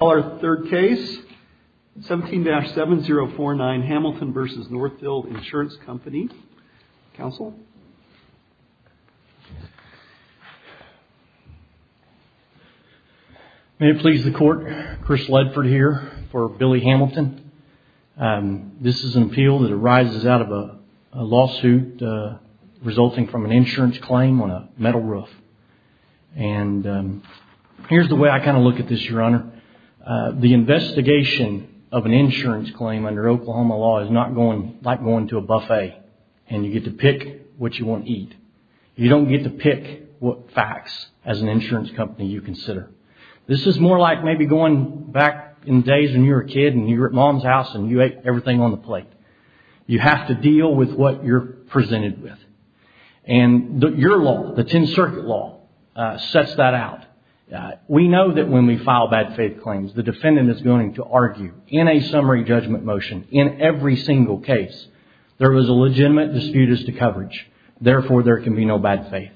Our third case, 17-7049 Hamilton v. Northfield Insurance Company. Counsel. May it please the court, Chris Ledford here for Billy Hamilton. This is an appeal that arises out of a lawsuit resulting from an insurance claim on a metal roof. And here's the way I kind of look at this, your honor. The investigation of an insurance claim under Oklahoma law is not going like going to a buffet and you get to pick what you want to eat. You don't get to pick what facts as an insurance company you consider. This is more like maybe going back in days when you were a kid and you were at mom's house and you ate everything on the plate. You have to deal with what you're presented with. And your law, the 10 circuit law, sets that out. We know that when we file bad faith claims, the defendant is going to argue in a summary judgment motion in every single case, there was a legitimate dispute as to coverage, therefore there can be no bad faith.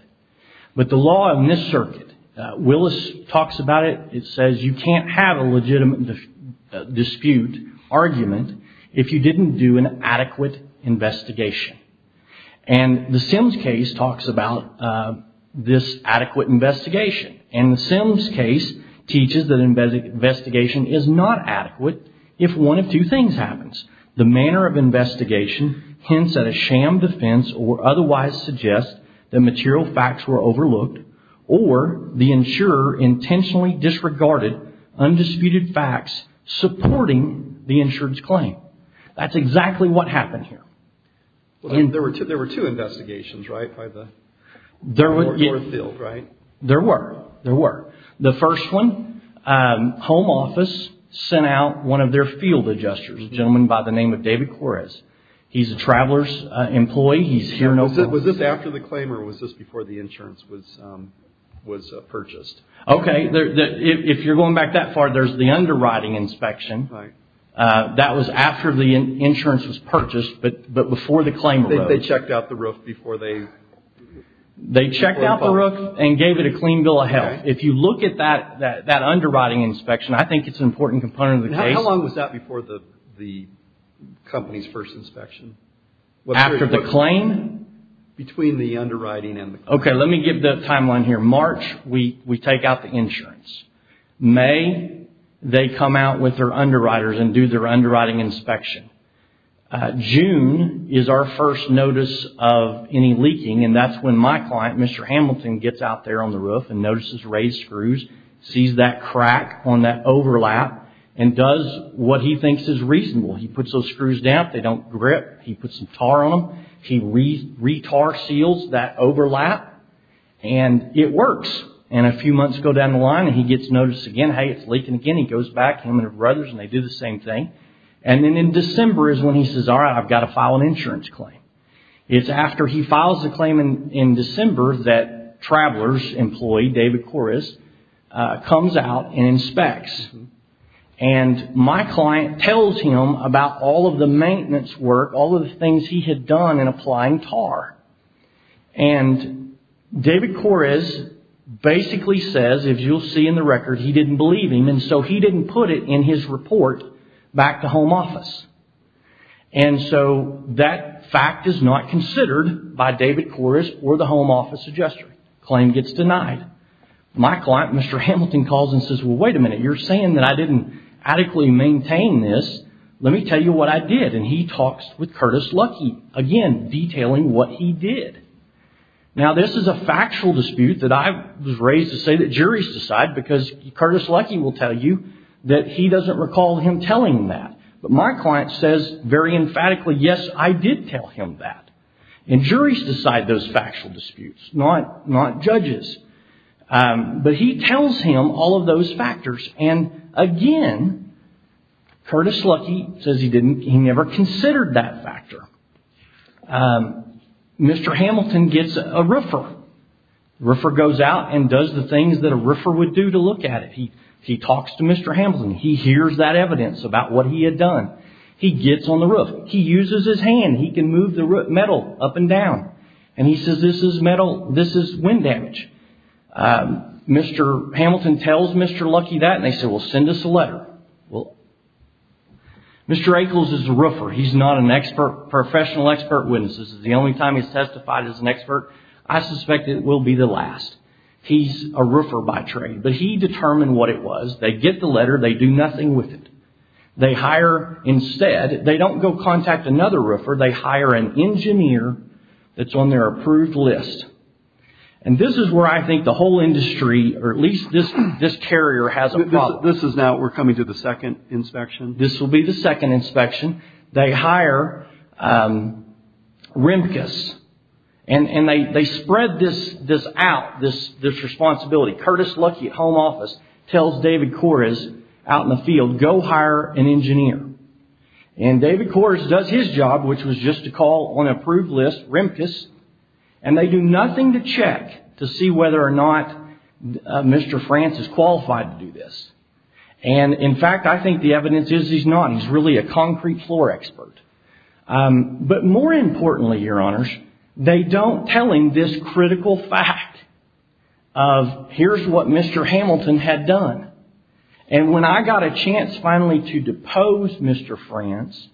But the law in this circuit, Willis talks about it. It says you can't have a legitimate dispute argument if you didn't do an adequate investigation. And the Sims case talks about this adequate investigation. And the Sims case teaches that investigation is not adequate if one of two things happens. The manner of investigation hints at a sham defense or otherwise suggests that material facts were overlooked or the insurer intentionally disregarded undisputed facts supporting the insurance claim. That's exactly what happened here. There were two investigations, right, by the court field, right? There were. There were. The first one, home office sent out one of their field adjusters, a gentleman by the name of David Quarez. He's a traveler's employee. He's here. Was this after the claim or was this before the insurance was purchased? OK. If you're going back that far, there's the underwriting inspection. That was after the insurance was purchased. But before the claim, they checked out the roof before they. They checked out the roof and gave it a clean bill of health. If you look at that, that that underwriting inspection, I think it's an important component of the case. How long was that before the the company's first inspection? After the claim? Between the underwriting and. OK, let me give the timeline here. March, we we take out the insurance. May, they come out with their underwriters and do their underwriting inspection. June is our first notice of any leaking. And that's when my client, Mr. Hamilton, gets out there on the roof and notices raised screws, sees that crack on that overlap and does what he thinks is reasonable. He puts those screws down. They don't grip. He puts some tar on them. He re-tar seals that overlap and it works. And a few months go down the line and he gets notice again. Hey, it's leaking again. He goes back to him and his brothers and they do the same thing. And then in December is when he says, all right, I've got to file an insurance claim. It's after he files the claim in December that Travelers employee David Correz comes out and inspects. And my client tells him about all of the maintenance work, all of the things he had done in applying tar. And David Correz basically says, as you'll see in the record, he didn't believe him. And so he didn't put it in his report back to home office. And so that fact is not considered by David Correz or the home office adjuster. Claim gets denied. My client, Mr. Hamilton, calls and says, well, wait a minute. You're saying that I didn't adequately maintain this. Let me tell you what I did. And he talks with Curtis Lucky again, detailing what he did. Now, this is a factual dispute that I was raised to say that juries decide because Curtis Lucky will tell you that he doesn't recall him telling that. But my client says very emphatically, yes, I did tell him that. And juries decide those factual disputes, not judges. But he tells him all of those factors. And again, Curtis Lucky says he didn't, he never considered that factor. Mr. Hamilton gets a riffer. Riffer goes out and does the things that a riffer would do to look at it. He, he talks to Mr. Hamilton. He hears that evidence about what he had done. He gets on the roof. He uses his hand. He can move the metal up and down. And he says, this is metal. This is wind damage. Mr. Hamilton tells Mr. Lucky that. And they said, well, send us a letter. Well, Mr. Echols is a roofer. He's not an expert, professional expert witnesses. The only time he's testified as an expert, I suspect it will be the last. He's a roofer by trade, but he determined what it was. They get the letter. They do nothing with it. They hire instead, they don't go contact another roofer. They hire an engineer that's on their approved list. And this is where I think the whole industry, or at least this, this carrier has a problem. This is now we're coming to the second inspection. This will be the second inspection. They hire, um, Remkus and, and they, they spread this, this out, this, this responsibility, Curtis Lucky at home office tells David Kores out in the field, go hire an engineer and David Kores does his job, which was just a call on approved list, Remkus. And they do nothing to check to see whether or not Mr. France is qualified to do this. And in fact, I think the evidence is he's not, he's really a concrete floor expert. Um, but more importantly, your honors, they don't tell him this critical fact of here's what Mr. Hamilton had done. And when I got a chance finally to depose Mr. France,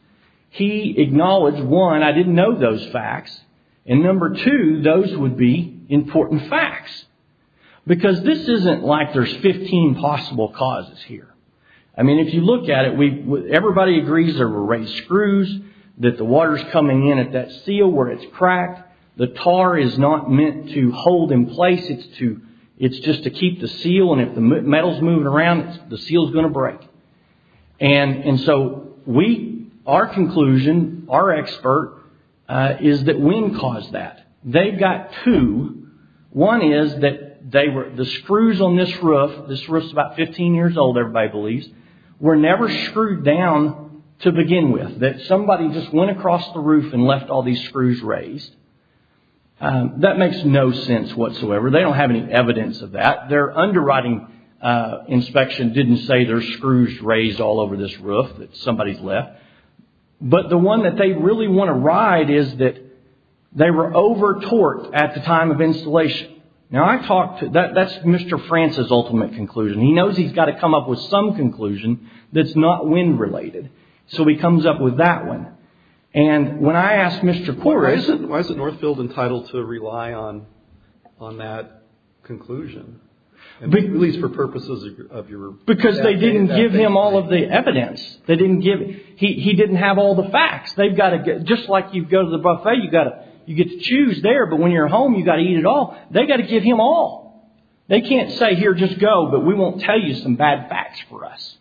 he acknowledged one, I didn't know those facts. And number two, those would be important facts because this isn't like there's 15 possible causes here. I mean, if you look at it, we, everybody agrees there were raised screws, that the water's coming in at that seal where it's cracked. The tar is not meant to hold in place. It's to, it's just to keep the seal. And if the metal's moving around, the seal is going to break. And, and so we, our conclusion, our expert, uh, is that wind caused that. They've got two. One is that they were, the screws on this roof, this roof's about 15 years old, everybody believes, were never screwed down to begin with, that somebody just went across the roof and left all these screws raised. Um, that makes no sense whatsoever. They don't have any evidence of that. Their underwriting, uh, inspection didn't say there's screws raised all over this roof that somebody's left, but the one that they really want to ride is that they were over torqued at the time of installation. Now I talked to that, that's Mr. France's ultimate conclusion. He knows he's got to come up with some conclusion that's not wind related. So he comes up with that one. And when I asked Mr. Quarries, why isn't Northfield entitled to rely on, on that conclusion? At least for purposes of your... Because they didn't give him all of the evidence. They didn't give him, he didn't have all the facts. They've got to get, just like you go to the buffet, you got to, you get to choose there, but when you're home, you got to eat it all. They got to give him all. They can't say here, just go, but we won't tell you some bad facts for us.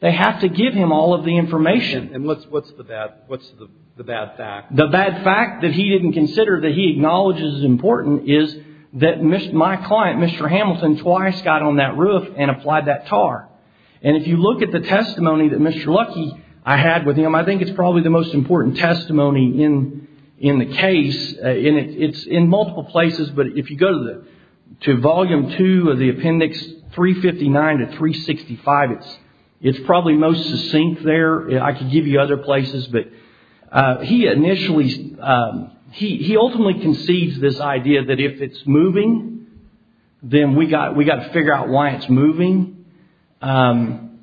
They have to give him all of the information. And what's, what's the bad, what's the bad fact? The bad fact that he didn't consider that he acknowledges is important is that my client, Mr. Hamilton, twice got on that roof and applied that tar. And if you look at the testimony that Mr. Lucky, I had with him, I think it's probably the most important testimony in, in the case, and it's in multiple places, but if you go to the, to volume two of the appendix 359 to 365, it's, it's probably most succinct there. I could give you other places, but he initially, he, he ultimately conceived this idea that if it's moving, then we got, we got to figure out why it's moving. And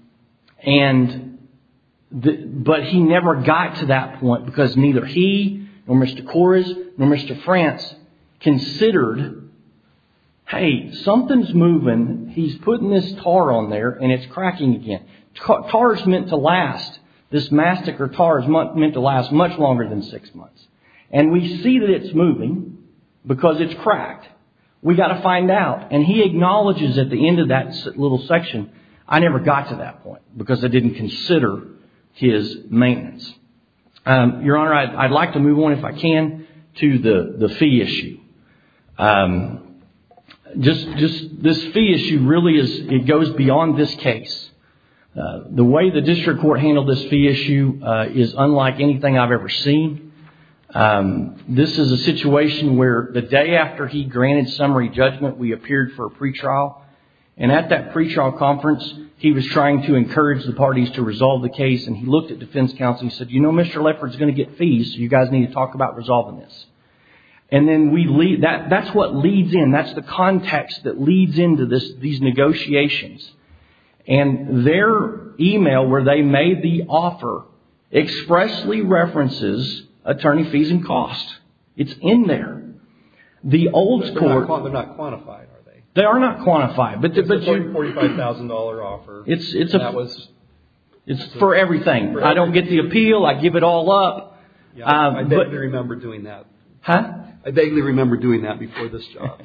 the, but he never got to that point because neither he or Mr. Kores or Mr. France considered, Hey, something's moving. He's putting this tar on there and it's cracking again. Tar is meant to last, this mastic or tar is meant to last much longer than six months. And we see that it's moving because it's cracked. We got to find out. And he acknowledges at the end of that little section, I never got to that point because I didn't consider his maintenance. Your Honor, I'd like to move on if I can to the fee issue. Just, just this fee issue really is, it goes beyond this case. The way the district court handled this fee issue is unlike anything I've ever seen. This is a situation where the day after he granted summary judgment, we appeared for a pretrial and at that pretrial conference, he was trying to encourage the parties to resolve the case. And he looked at defense counsel and said, you know, Mr. Lefferts is going to get fees. You guys need to talk about resolving this. And then we leave that. That's what leads in. That's the context that leads into this, these negotiations and their email where they made the offer expressly references attorney fees and costs. It's in there. The old score. They're not quantified, are they? They are not quantified. But the $45,000 offer. It's, it's a, it's for everything. I don't get the appeal. I give it all up. I vaguely remember doing that. Huh? I vaguely remember doing that before this job.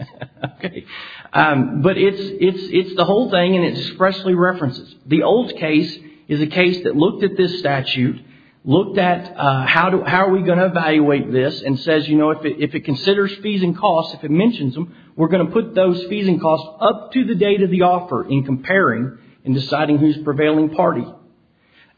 Okay. But it's, it's, it's the whole thing. And it's expressly references. The old case is a case that looked at this statute, looked at how do, how are we going to evaluate this and says, you know, if it, if it considers fees and costs, if it mentions them, we're going to put those fees and costs up to the date of the offer in comparing and deciding who's prevailing party.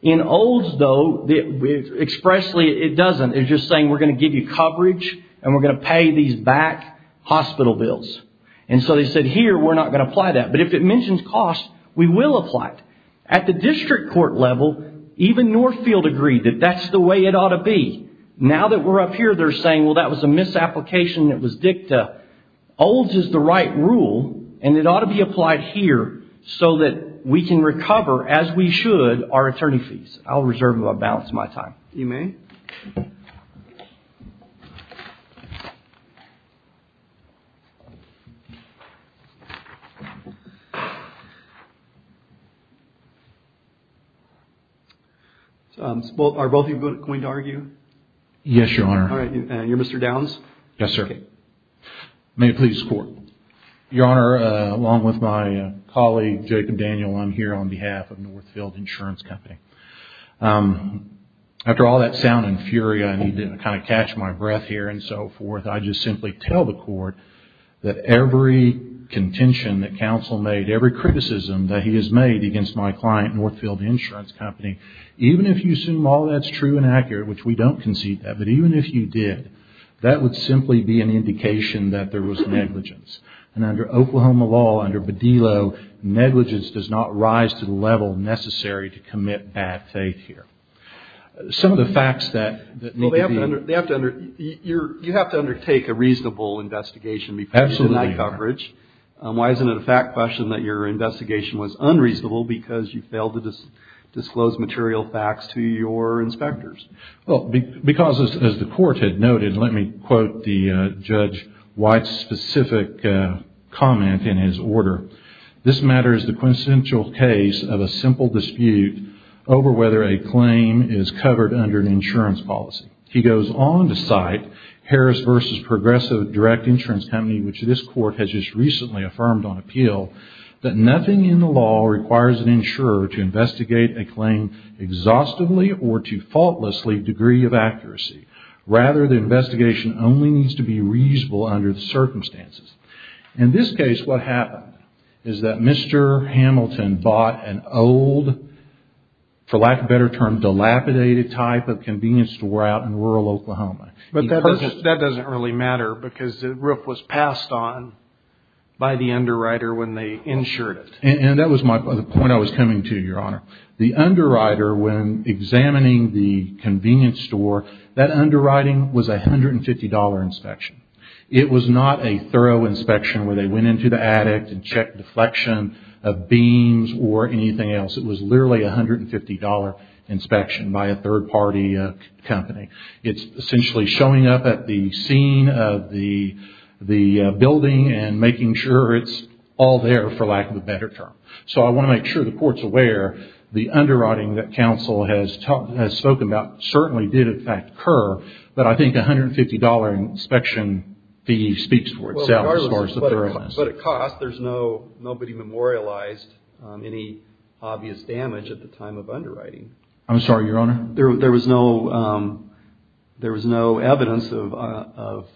In old's though, the expressly, it doesn't. It's just saying, we're going to give you coverage and we're going to pay these back hospital bills. And so they said here, we're not going to apply that. But if it mentions costs, we will apply it. At the district court level, even Northfield agreed that that's the way it ought to be. Now that we're up here, they're saying, well, that was a misapplication. It was dicta. Old's is the right rule and it ought to be applied here so that we can recover as we should our attorney fees. I'll reserve a balance of my time. You may. So are both of you going to argue? Yes, Your Honor. All right. You're Mr. Downs? Yes, sir. May it please the court. Your Honor, along with my colleague, Jacob Daniel, I'm here on behalf of Northfield Insurance Company. After all that sound and fury, I need to kind of catch my breath here and so forth, I just simply tell the court that every contention that counsel made, every criticism that he has made against my client, Northfield Insurance Company, even if you assume all that's true and accurate, which we don't concede that, but even if you did, that would simply be an indication that there was negligence. And under Oklahoma law, under Bedillo, negligence does not rise to the level necessary to commit bad faith here. Some of the facts that need to be... Well, you have to undertake a reasonable investigation before you deny coverage. Why isn't it a fact question that your investigation was unreasonable because you failed to disclose material facts to your inspectors? Well, because as the court had noted, let me quote the Judge White's specific comment in his order. This matter is the quintessential case of a simple dispute over whether a claim is covered under an insurance policy. He goes on to cite Harris v. Progressive Direct Insurance Company, which this court has just recently affirmed on appeal, that nothing in the law requires an insurer to investigate a claim exhaustively or to faultlessly degree of accuracy. Rather, the investigation only needs to be reasonable under the circumstances. In this case, what happened? Is that Mr. Hamilton bought an old, for lack of a better term, dilapidated type of convenience store out in rural Oklahoma. But that doesn't really matter because the roof was passed on by the underwriter when they insured it. And that was the point I was coming to, Your Honor. The underwriter, when examining the convenience store, that underwriting was a $150 inspection. It was not a thorough inspection where they went into the attic and checked deflection of beams or anything else. It was literally a $150 inspection by a third-party company. It's essentially showing up at the scene of the building and making sure it's all there, for lack of a better term. So I want to make sure the court's aware the underwriting that counsel has spoken about certainly did, in fact, occur. But I think a $150 inspection fee speaks for itself as far as the thoroughness. But at cost, nobody memorialized any obvious damage at the time of underwriting. I'm sorry, Your Honor? There was no evidence of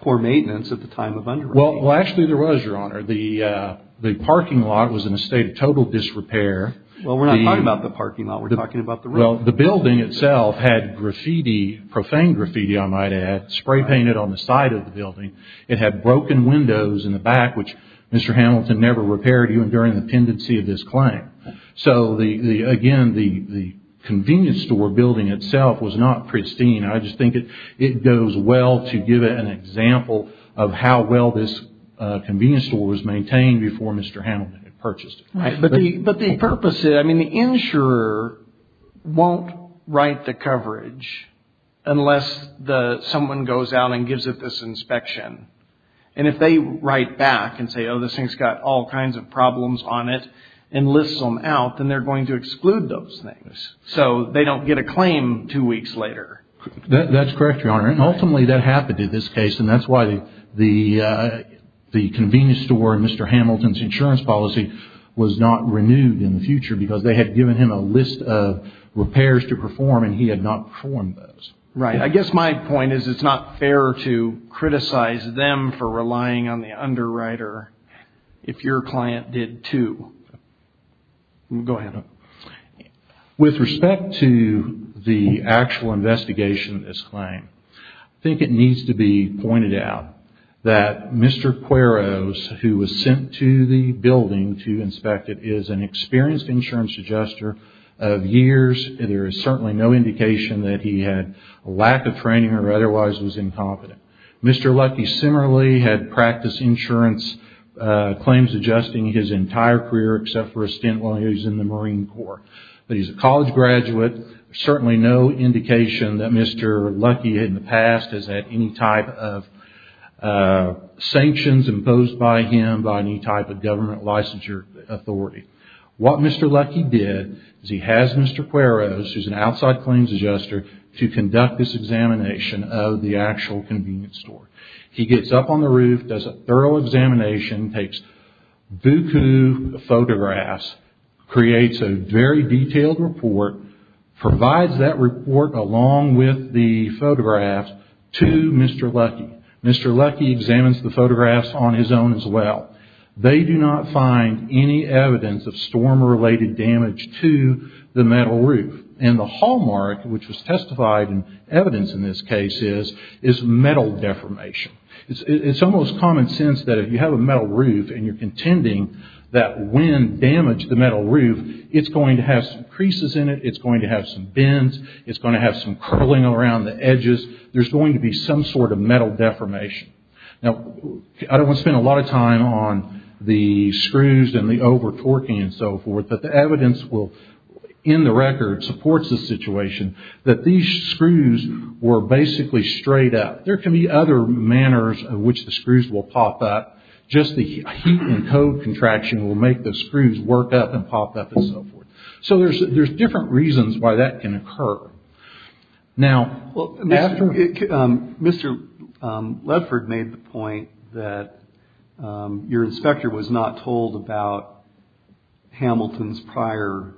poor maintenance at the time of underwriting. Well, actually there was, Your Honor. The parking lot was in a state of total disrepair. Well, we're not talking about the parking lot. We're talking about the room. Well, the building itself had graffiti, profane graffiti, I might add, spray painted on the side of the building. It had broken windows in the back, which Mr. Hamilton never repaired, even during the pendency of this claim. So, again, the convenience store building itself was not pristine. I just think it goes well to give an example of how well this convenience store was maintained before Mr. Hamilton had purchased it. Right. But the purpose is, I mean, the insurer won't write the coverage unless someone goes out and gives it this inspection. And if they write back and say, oh, this thing's got all kinds of problems on it and lists them out, then they're going to exclude those things. So they don't get a claim two weeks later. That's correct, Your Honor. And ultimately that happened in this case. And that's why the convenience store and Mr. Hamilton were not renewed in the future because they had given him a list of repairs to perform and he had not performed those. Right. I guess my point is, it's not fair to criticize them for relying on the underwriter if your client did too. Go ahead. With respect to the actual investigation of this claim, I think it needs to be noted that Mr. Hamilton is an experienced insurance adjuster of years. There is certainly no indication that he had a lack of training or otherwise was incompetent. Mr. Luckey similarly had practiced insurance claims adjusting his entire career, except for a stint while he was in the Marine Corps. But he's a college graduate. There's certainly no indication that Mr. Luckey in the past has had any type of sanctions imposed by him by any type of government licensure authority. What Mr. Luckey did is he has Mr. Queros, who is an outside claims adjuster, to conduct this examination of the actual convenience store. He gets up on the roof, does a thorough examination, takes Bucu photographs, creates a very detailed report, provides that report along with the photographs to Mr. Luckey. Mr. Luckey examines the photographs on his own as well. They do not find any evidence of storm-related damage to the metal roof. And the hallmark, which was testified in evidence in this case, is metal deformation. It's almost common sense that if you have a metal roof and you're contending that wind damaged the metal roof, it's going to have some creases in it, it's going to have some bends, it's going to have some curling around the edges, there's going to be some sort of metal deformation. Now, I don't want to spend a lot of time on the screws and the over-torquing and so forth, but the evidence will, in the record, supports the situation that these screws were basically straight up. There can be other manners in which the screws will pop up, just the heat and code contraction will make the screws work up and pop up and so forth. So there's different reasons why that can occur. Now, Mr. Ledford made the point that your inspector was not told about Hamilton's prior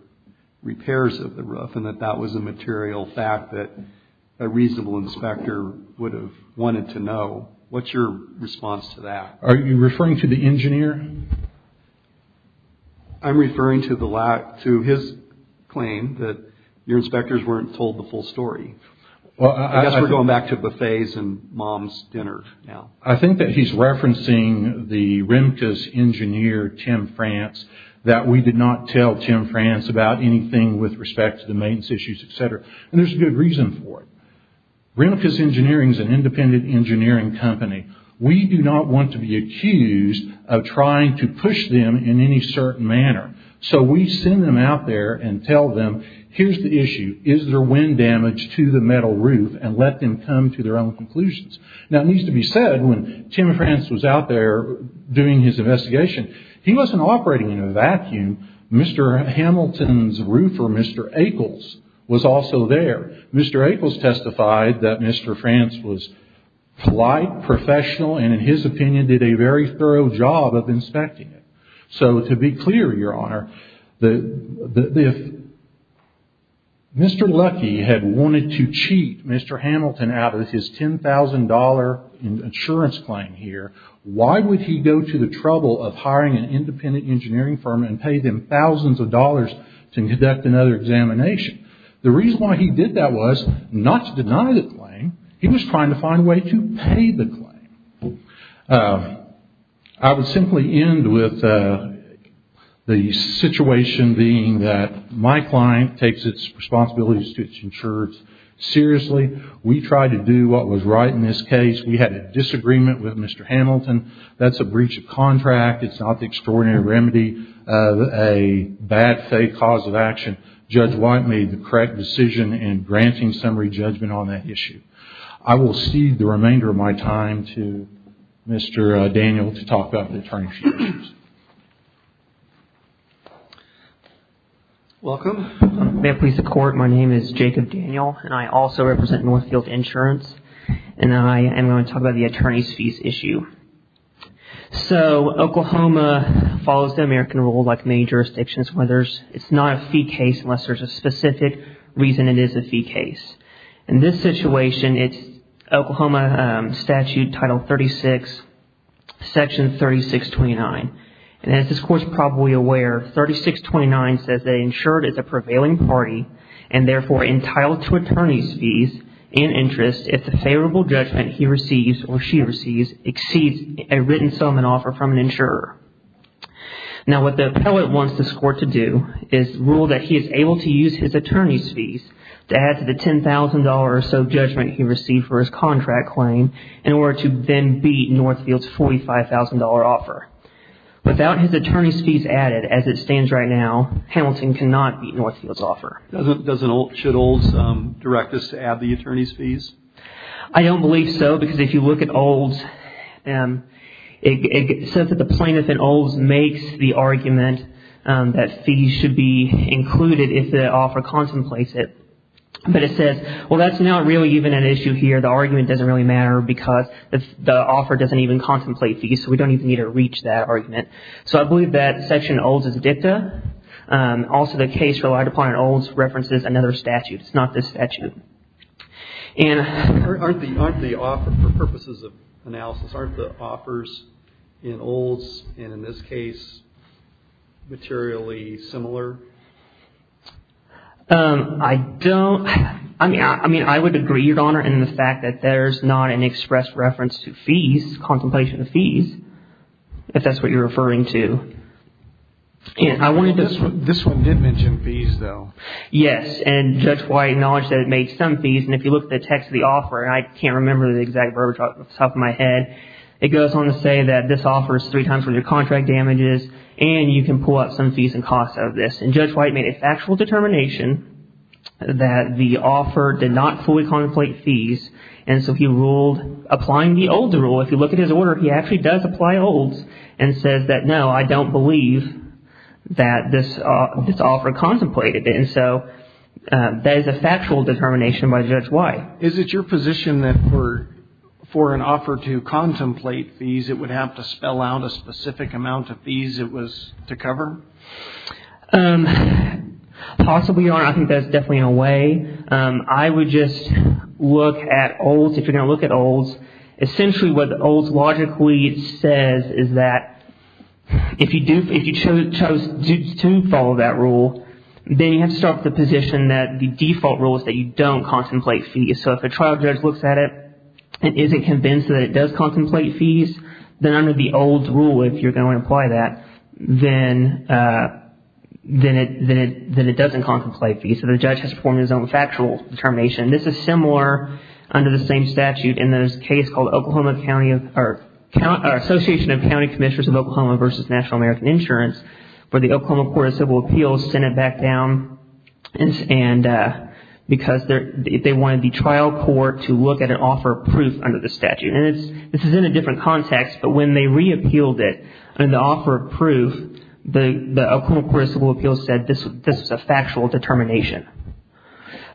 repairs of the roof and that that was a material fact that a reasonable inspector would have wanted to know. What's your response to that? Are you referring to the engineer? I'm referring to his claim that your inspectors weren't told the full story. I guess we're going back to buffets and mom's dinner now. I think that he's referencing the Remkes engineer, Tim France, that we did not tell Tim France about anything with respect to the maintenance issues, etc. And there's a good reason for it. Remkes Engineering is an independent engineering company. We do not want to be accused of trying to push them in any certain manner. So we send them out there and tell them, here's the issue. Is there wind damage to the metal roof? And let them come to their own conclusions. Now, it needs to be said, when Tim France was out there doing his investigation, he wasn't operating in a vacuum. Mr. Hamilton's roofer, Mr. Echols, was also there. Mr. Echols testified that Mr. France was polite, professional, and in his opinion, did a very thorough job of inspecting it. So to be clear, Your Honor, if Mr. Lucky had wanted to cheat Mr. Hamilton out of his $10,000 insurance claim here, why would he go to the trouble of hiring an independent engineering firm and pay them thousands of dollars to conduct another examination? The reason why he did that was not to deny the claim. He was trying to find a way to pay the claim. I would simply end with the situation being that my client takes its responsibilities to its insurers seriously. We tried to do what was right in this case. We had a disagreement with Mr. Hamilton. That's a breach of contract. It's not the extraordinary remedy of a bad faith cause of action. Judge White made the correct decision in granting summary judgment on that issue. I will cede the remainder of my time to Mr. Daniel to talk about the attorney's fees. Welcome. May it please the court. My name is Jacob Daniel and I also represent Northfield Insurance and I am going to talk about the attorney's fees issue. So Oklahoma follows the American rule like many jurisdictions, whether it's not a fee case, unless there's a specific reason it is a fee case. In this situation, it's Oklahoma statute title 36, section 3629. And as this court is probably aware, 3629 says that insured is a prevailing party and therefore entitled to attorney's fees in interest if the favorable judgment he receives or she receives exceeds a written sum and offer from an insurer. Now what the appellate wants this court to do is rule that he is able to use his attorney's fees to add to the $10,000 or so judgment he received for his contract claim in order to then beat Northfield's $45,000 offer. Without his attorney's fees added as it stands right now, Hamilton cannot beat Northfield's offer. Doesn't should Olds direct us to add the attorney's fees? I don't believe so because if you look at Olds, it says that the plaintiff's in Olds makes the argument that fees should be included if the offer contemplates it. But it says, well, that's not really even an issue here. The argument doesn't really matter because the offer doesn't even contemplate fees. So we don't even need to reach that argument. So I believe that section in Olds is dicta. Also the case relied upon in Olds references another statute. It's not this statute. And aren't the offer, for purposes of analysis, aren't the offers in Olds and in this case, materially similar? I don't, I mean, I would agree, Your Honor, in the fact that there's not an expressed reference to fees, contemplation of fees, if that's what you're referring to. And I wanted to... This one did mention fees though. Yes. And Judge White acknowledged that it made some fees. And if you look at the text of the offer, and I can't remember the exact verbiage off the top of my head, it goes on to say that this offer is three times for your contract damages and you can pull up some fees and costs of this. And Judge White made a factual determination that the offer did not fully contemplate fees. And so he ruled, applying the Olds rule, if you look at his order, he actually does apply Olds and says that, no, I don't believe that this offer contemplated. And so that is a factual determination by Judge White. Is it your position that for an offer to contemplate fees, it would have to spell out a specific amount of fees it was to cover? Possibly, Your Honor. I think that's definitely in a way. I would just look at Olds. If you're going to look at Olds, essentially what the Olds logically says is that if you chose to follow that rule, then you have to start with the position that the default rule is that you don't contemplate fees. So if a trial judge looks at it and isn't convinced that it does contemplate fees, then under the Olds rule, if you're going to apply that, then it doesn't contemplate fees. So the judge has to perform his own factual determination. This is similar under the same statute in this case called Oklahoma County or Association of County Commissioners of Oklahoma versus National American Insurance, where the Oklahoma Court of Civil Appeals sent it back down and because they wanted the trial court to look at an offer of proof under the same context, but when they re-appealed it under the offer of proof, the Oklahoma Court of Civil Appeals said this is a factual determination.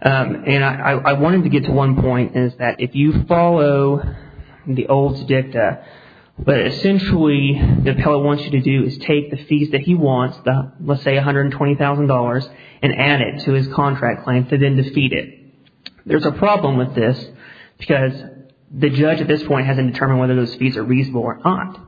And I wanted to get to one point is that if you follow the Olds dicta, but essentially the appellate wants you to do is take the fees that he wants, let's say $120,000, and add it to his contract claim to then defeat it. There's a problem with this because the judge at this point hasn't determined whether those fees are reasonable or not.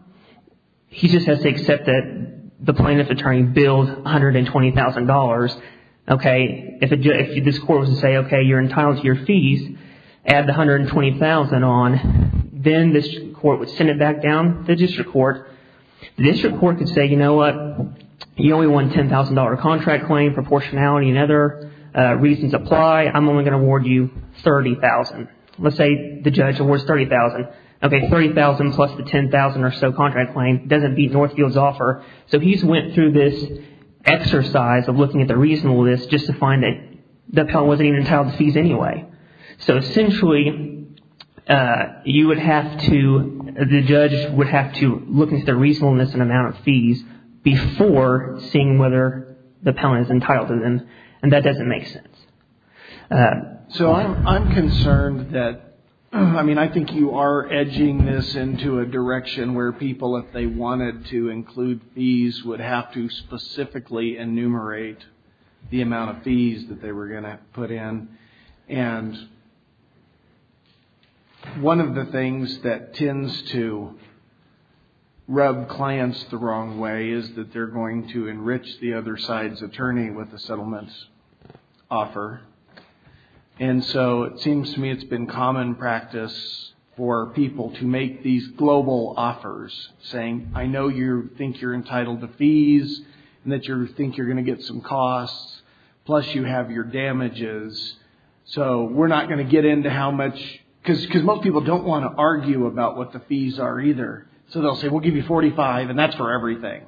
He just has to accept that the plaintiff attorney billed $120,000. Okay, if this court was to say, okay, you're entitled to your fees, add the $120,000 on, then this court would send it back down to the district court. The district court could say, you know what, you only won a $10,000 contract claim, proportionality and other reasons apply. I'm only going to award you $30,000. Let's say the judge awards $30,000. Okay, $30,000 plus the $10,000 or so contract claim doesn't beat Northfield's offer, so he's went through this exercise of looking at the reasonableness just to find that the appellant wasn't even entitled to the fees anyway. So essentially, you would have to, the judge would have to look into the reasonableness and amount of fees before seeing whether the appellant is entitled to them, and that doesn't make sense. So I'm concerned that, I mean, I think you are edging this into a direction where people, if they wanted to include fees, would have to specifically enumerate the amount of fees that they were going to put in, and one of the things that tends to rub clients the wrong way is that they're going to enrich the other side's attorney with the settlement's offer, and so it seems to me it's been common practice for people to make these global offers, saying, I know you think you're entitled to fees, and that you think you're going to get some costs, plus you have your damages, so we're not going to get into how much, because most people don't want to argue about what the fees are either. So they'll say, we'll give you $45,000, and that's for everything.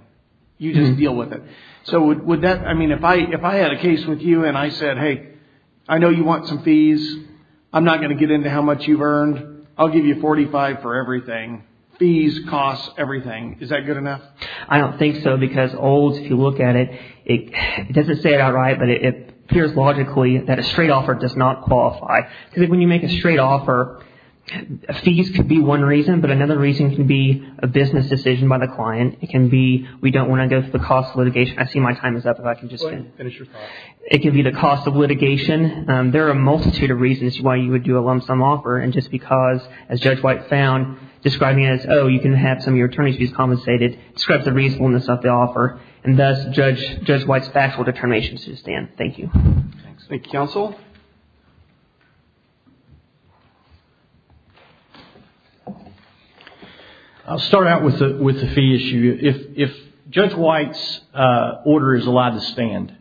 You just deal with it. So would that, I mean, if I had a case with you and I said, hey, I know you want some fees, I'm not going to get into how much you've earned, I'll give you $45,000 for everything, fees, costs, everything, is that good enough? I don't think so, because Olds, if you look at it, it doesn't say it outright, but it appears logically that a straight offer does not qualify. Because when you make a straight offer, fees could be one reason, but another reason can be a business decision by the client. It can be, we don't want to go through the cost of litigation. I see my time is up, if I can just finish. It can be the cost of litigation. There are a multitude of reasons why you would do a lump sum offer. And just because, as Judge White found, describing it as, oh, you can have some of your attorneys fees compensated, describes the reasonableness of the offer, and that's Judge White's factual determination to stand. Thank you. Thank you, counsel. I'll start out with the fee issue. If Judge White's order is allowed to stand,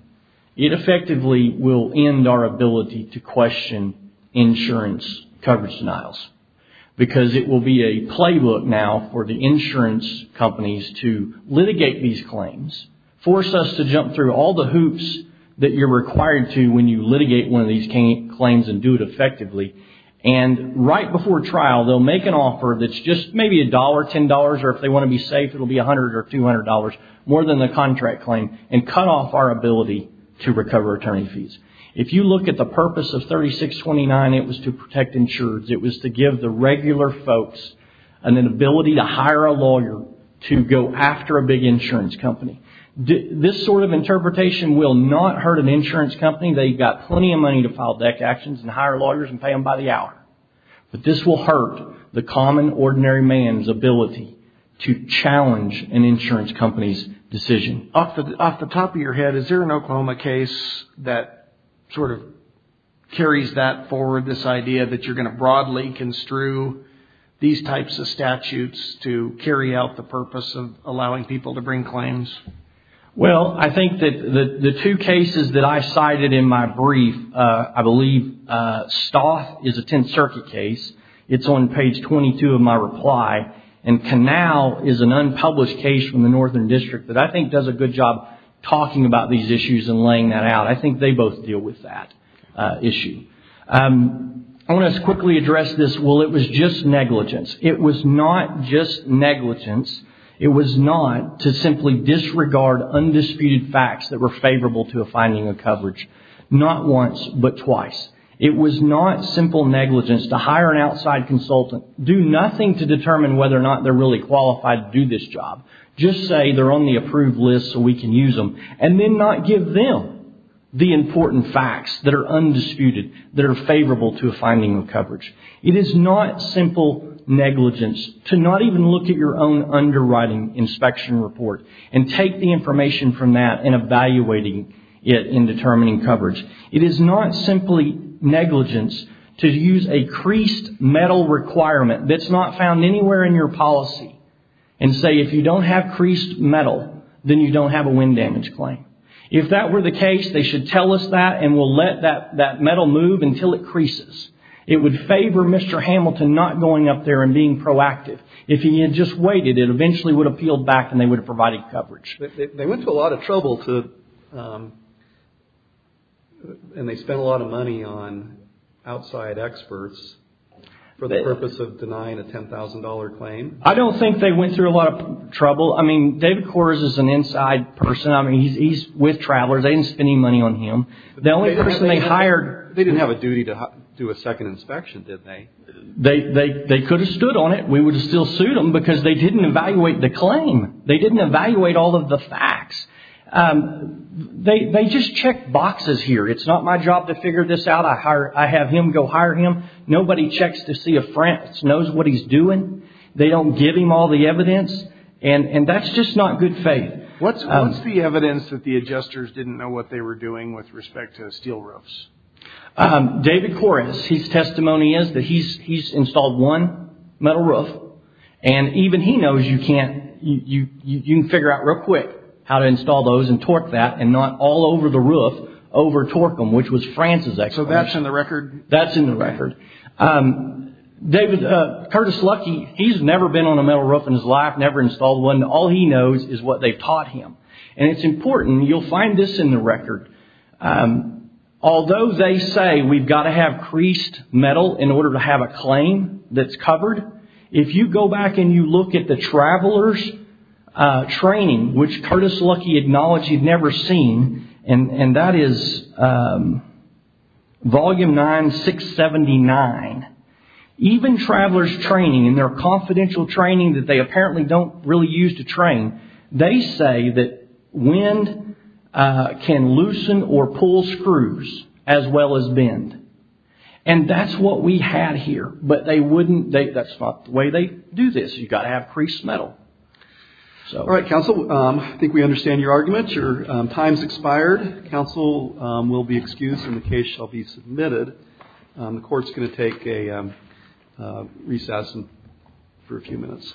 it effectively will end our ability to question insurance coverage denials, because it will be a playbook now for the insurance companies to litigate these claims, force us to jump through all the hoops that you're required to when you litigate one of these claims and do it effectively. And right before trial, they'll make an offer that's just maybe a dollar, $10, or if they want to be safe, it'll be $100 or $200, more than the contract claim, and cut off our ability to recover attorney fees. If you look at the purpose of 3629, it was to protect insurers. It was to give the regular folks an ability to hire a lawyer to go after a big insurance company. This sort of interpretation will not hurt an insurance company. They've got plenty of money to file deck actions and hire lawyers and pay them by the hour. But this will hurt the common ordinary man's ability to challenge an insurance company's decision. Off the top of your head, is there an Oklahoma case that sort of carries that forward, this idea that you're going to broadly construe these types of statutes to carry out the purpose of allowing people to bring claims? Well, I think that the two cases that I cited in my brief, I believe Stoth is a Tenth Circuit case. It's on page 22 of my reply. And Canal is an unpublished case from the Northern District that I think does a good job talking about these issues and laying that out. I think they both deal with that issue. I want to quickly address this. Well, it was just negligence. It was not just negligence. It was not to simply disregard undisputed facts that were favorable to a finding of coverage. Not once, but twice. It was not simple negligence to hire an outside consultant, do nothing to determine whether or not they're really qualified to do this job. Just say they're on the approved list so we can use them and then not give them the important facts that are undisputed, that are favorable to a finding of coverage. It is not simple negligence to not even look at your own underwriting inspection report and take the information from that and evaluating it in determining coverage. It is not simply negligence to use a creased metal requirement that's not found anywhere in your policy and say, if you don't have creased metal, then you don't have a wind damage claim. If that were the case, they should tell us that and we'll let that metal move until it creases. It would favor Mr. Hamilton not going up there and being proactive. If he had just waited, it eventually would have peeled back and they would have provided coverage. They went to a lot of trouble to, and they spent a lot of money on outside experts for the purpose of denying a $10,000 claim. I don't think they went through a lot of trouble. I mean, David Kors is an inside person. I mean, he's with Travelers. They didn't spend any money on him. The only person they hired. They didn't have a duty to do a second inspection, did they? They could have stood on it. We would have still sued them because they didn't evaluate the claim. They didn't evaluate all of the facts. They just check boxes here. It's not my job to figure this out. I have him go hire him. Nobody checks to see a France, knows what he's doing. They don't give him all the evidence. And that's just not good faith. What's the evidence that the adjusters didn't know what they were doing with respect to steel roofs? David Kors, his testimony is that he's installed one metal roof and even he knows you can't, you can figure out real quick how to install those and torque that and not all over the roof over Torcum, which was France's. So that's in the record? That's in the record. David, Curtis Lucky, he's never been on a metal roof in his life. Never installed one. All he knows is what they've taught him. And it's important. You'll find this in the record. Although they say we've got to have creased metal in order to have a claim that's covered, if you go back and you look at the traveler's training, which Curtis Lucky acknowledged he'd never seen, and that is volume 9679, even traveler's training and their confidential training that they loosen or pull screws as well as bend. And that's what we had here, but they wouldn't, that's not the way they do this, you've got to have creased metal. So, all right, counsel, I think we understand your argument. Your time's expired. Counsel will be excused and the case shall be submitted. The court's going to take a recess for a few minutes.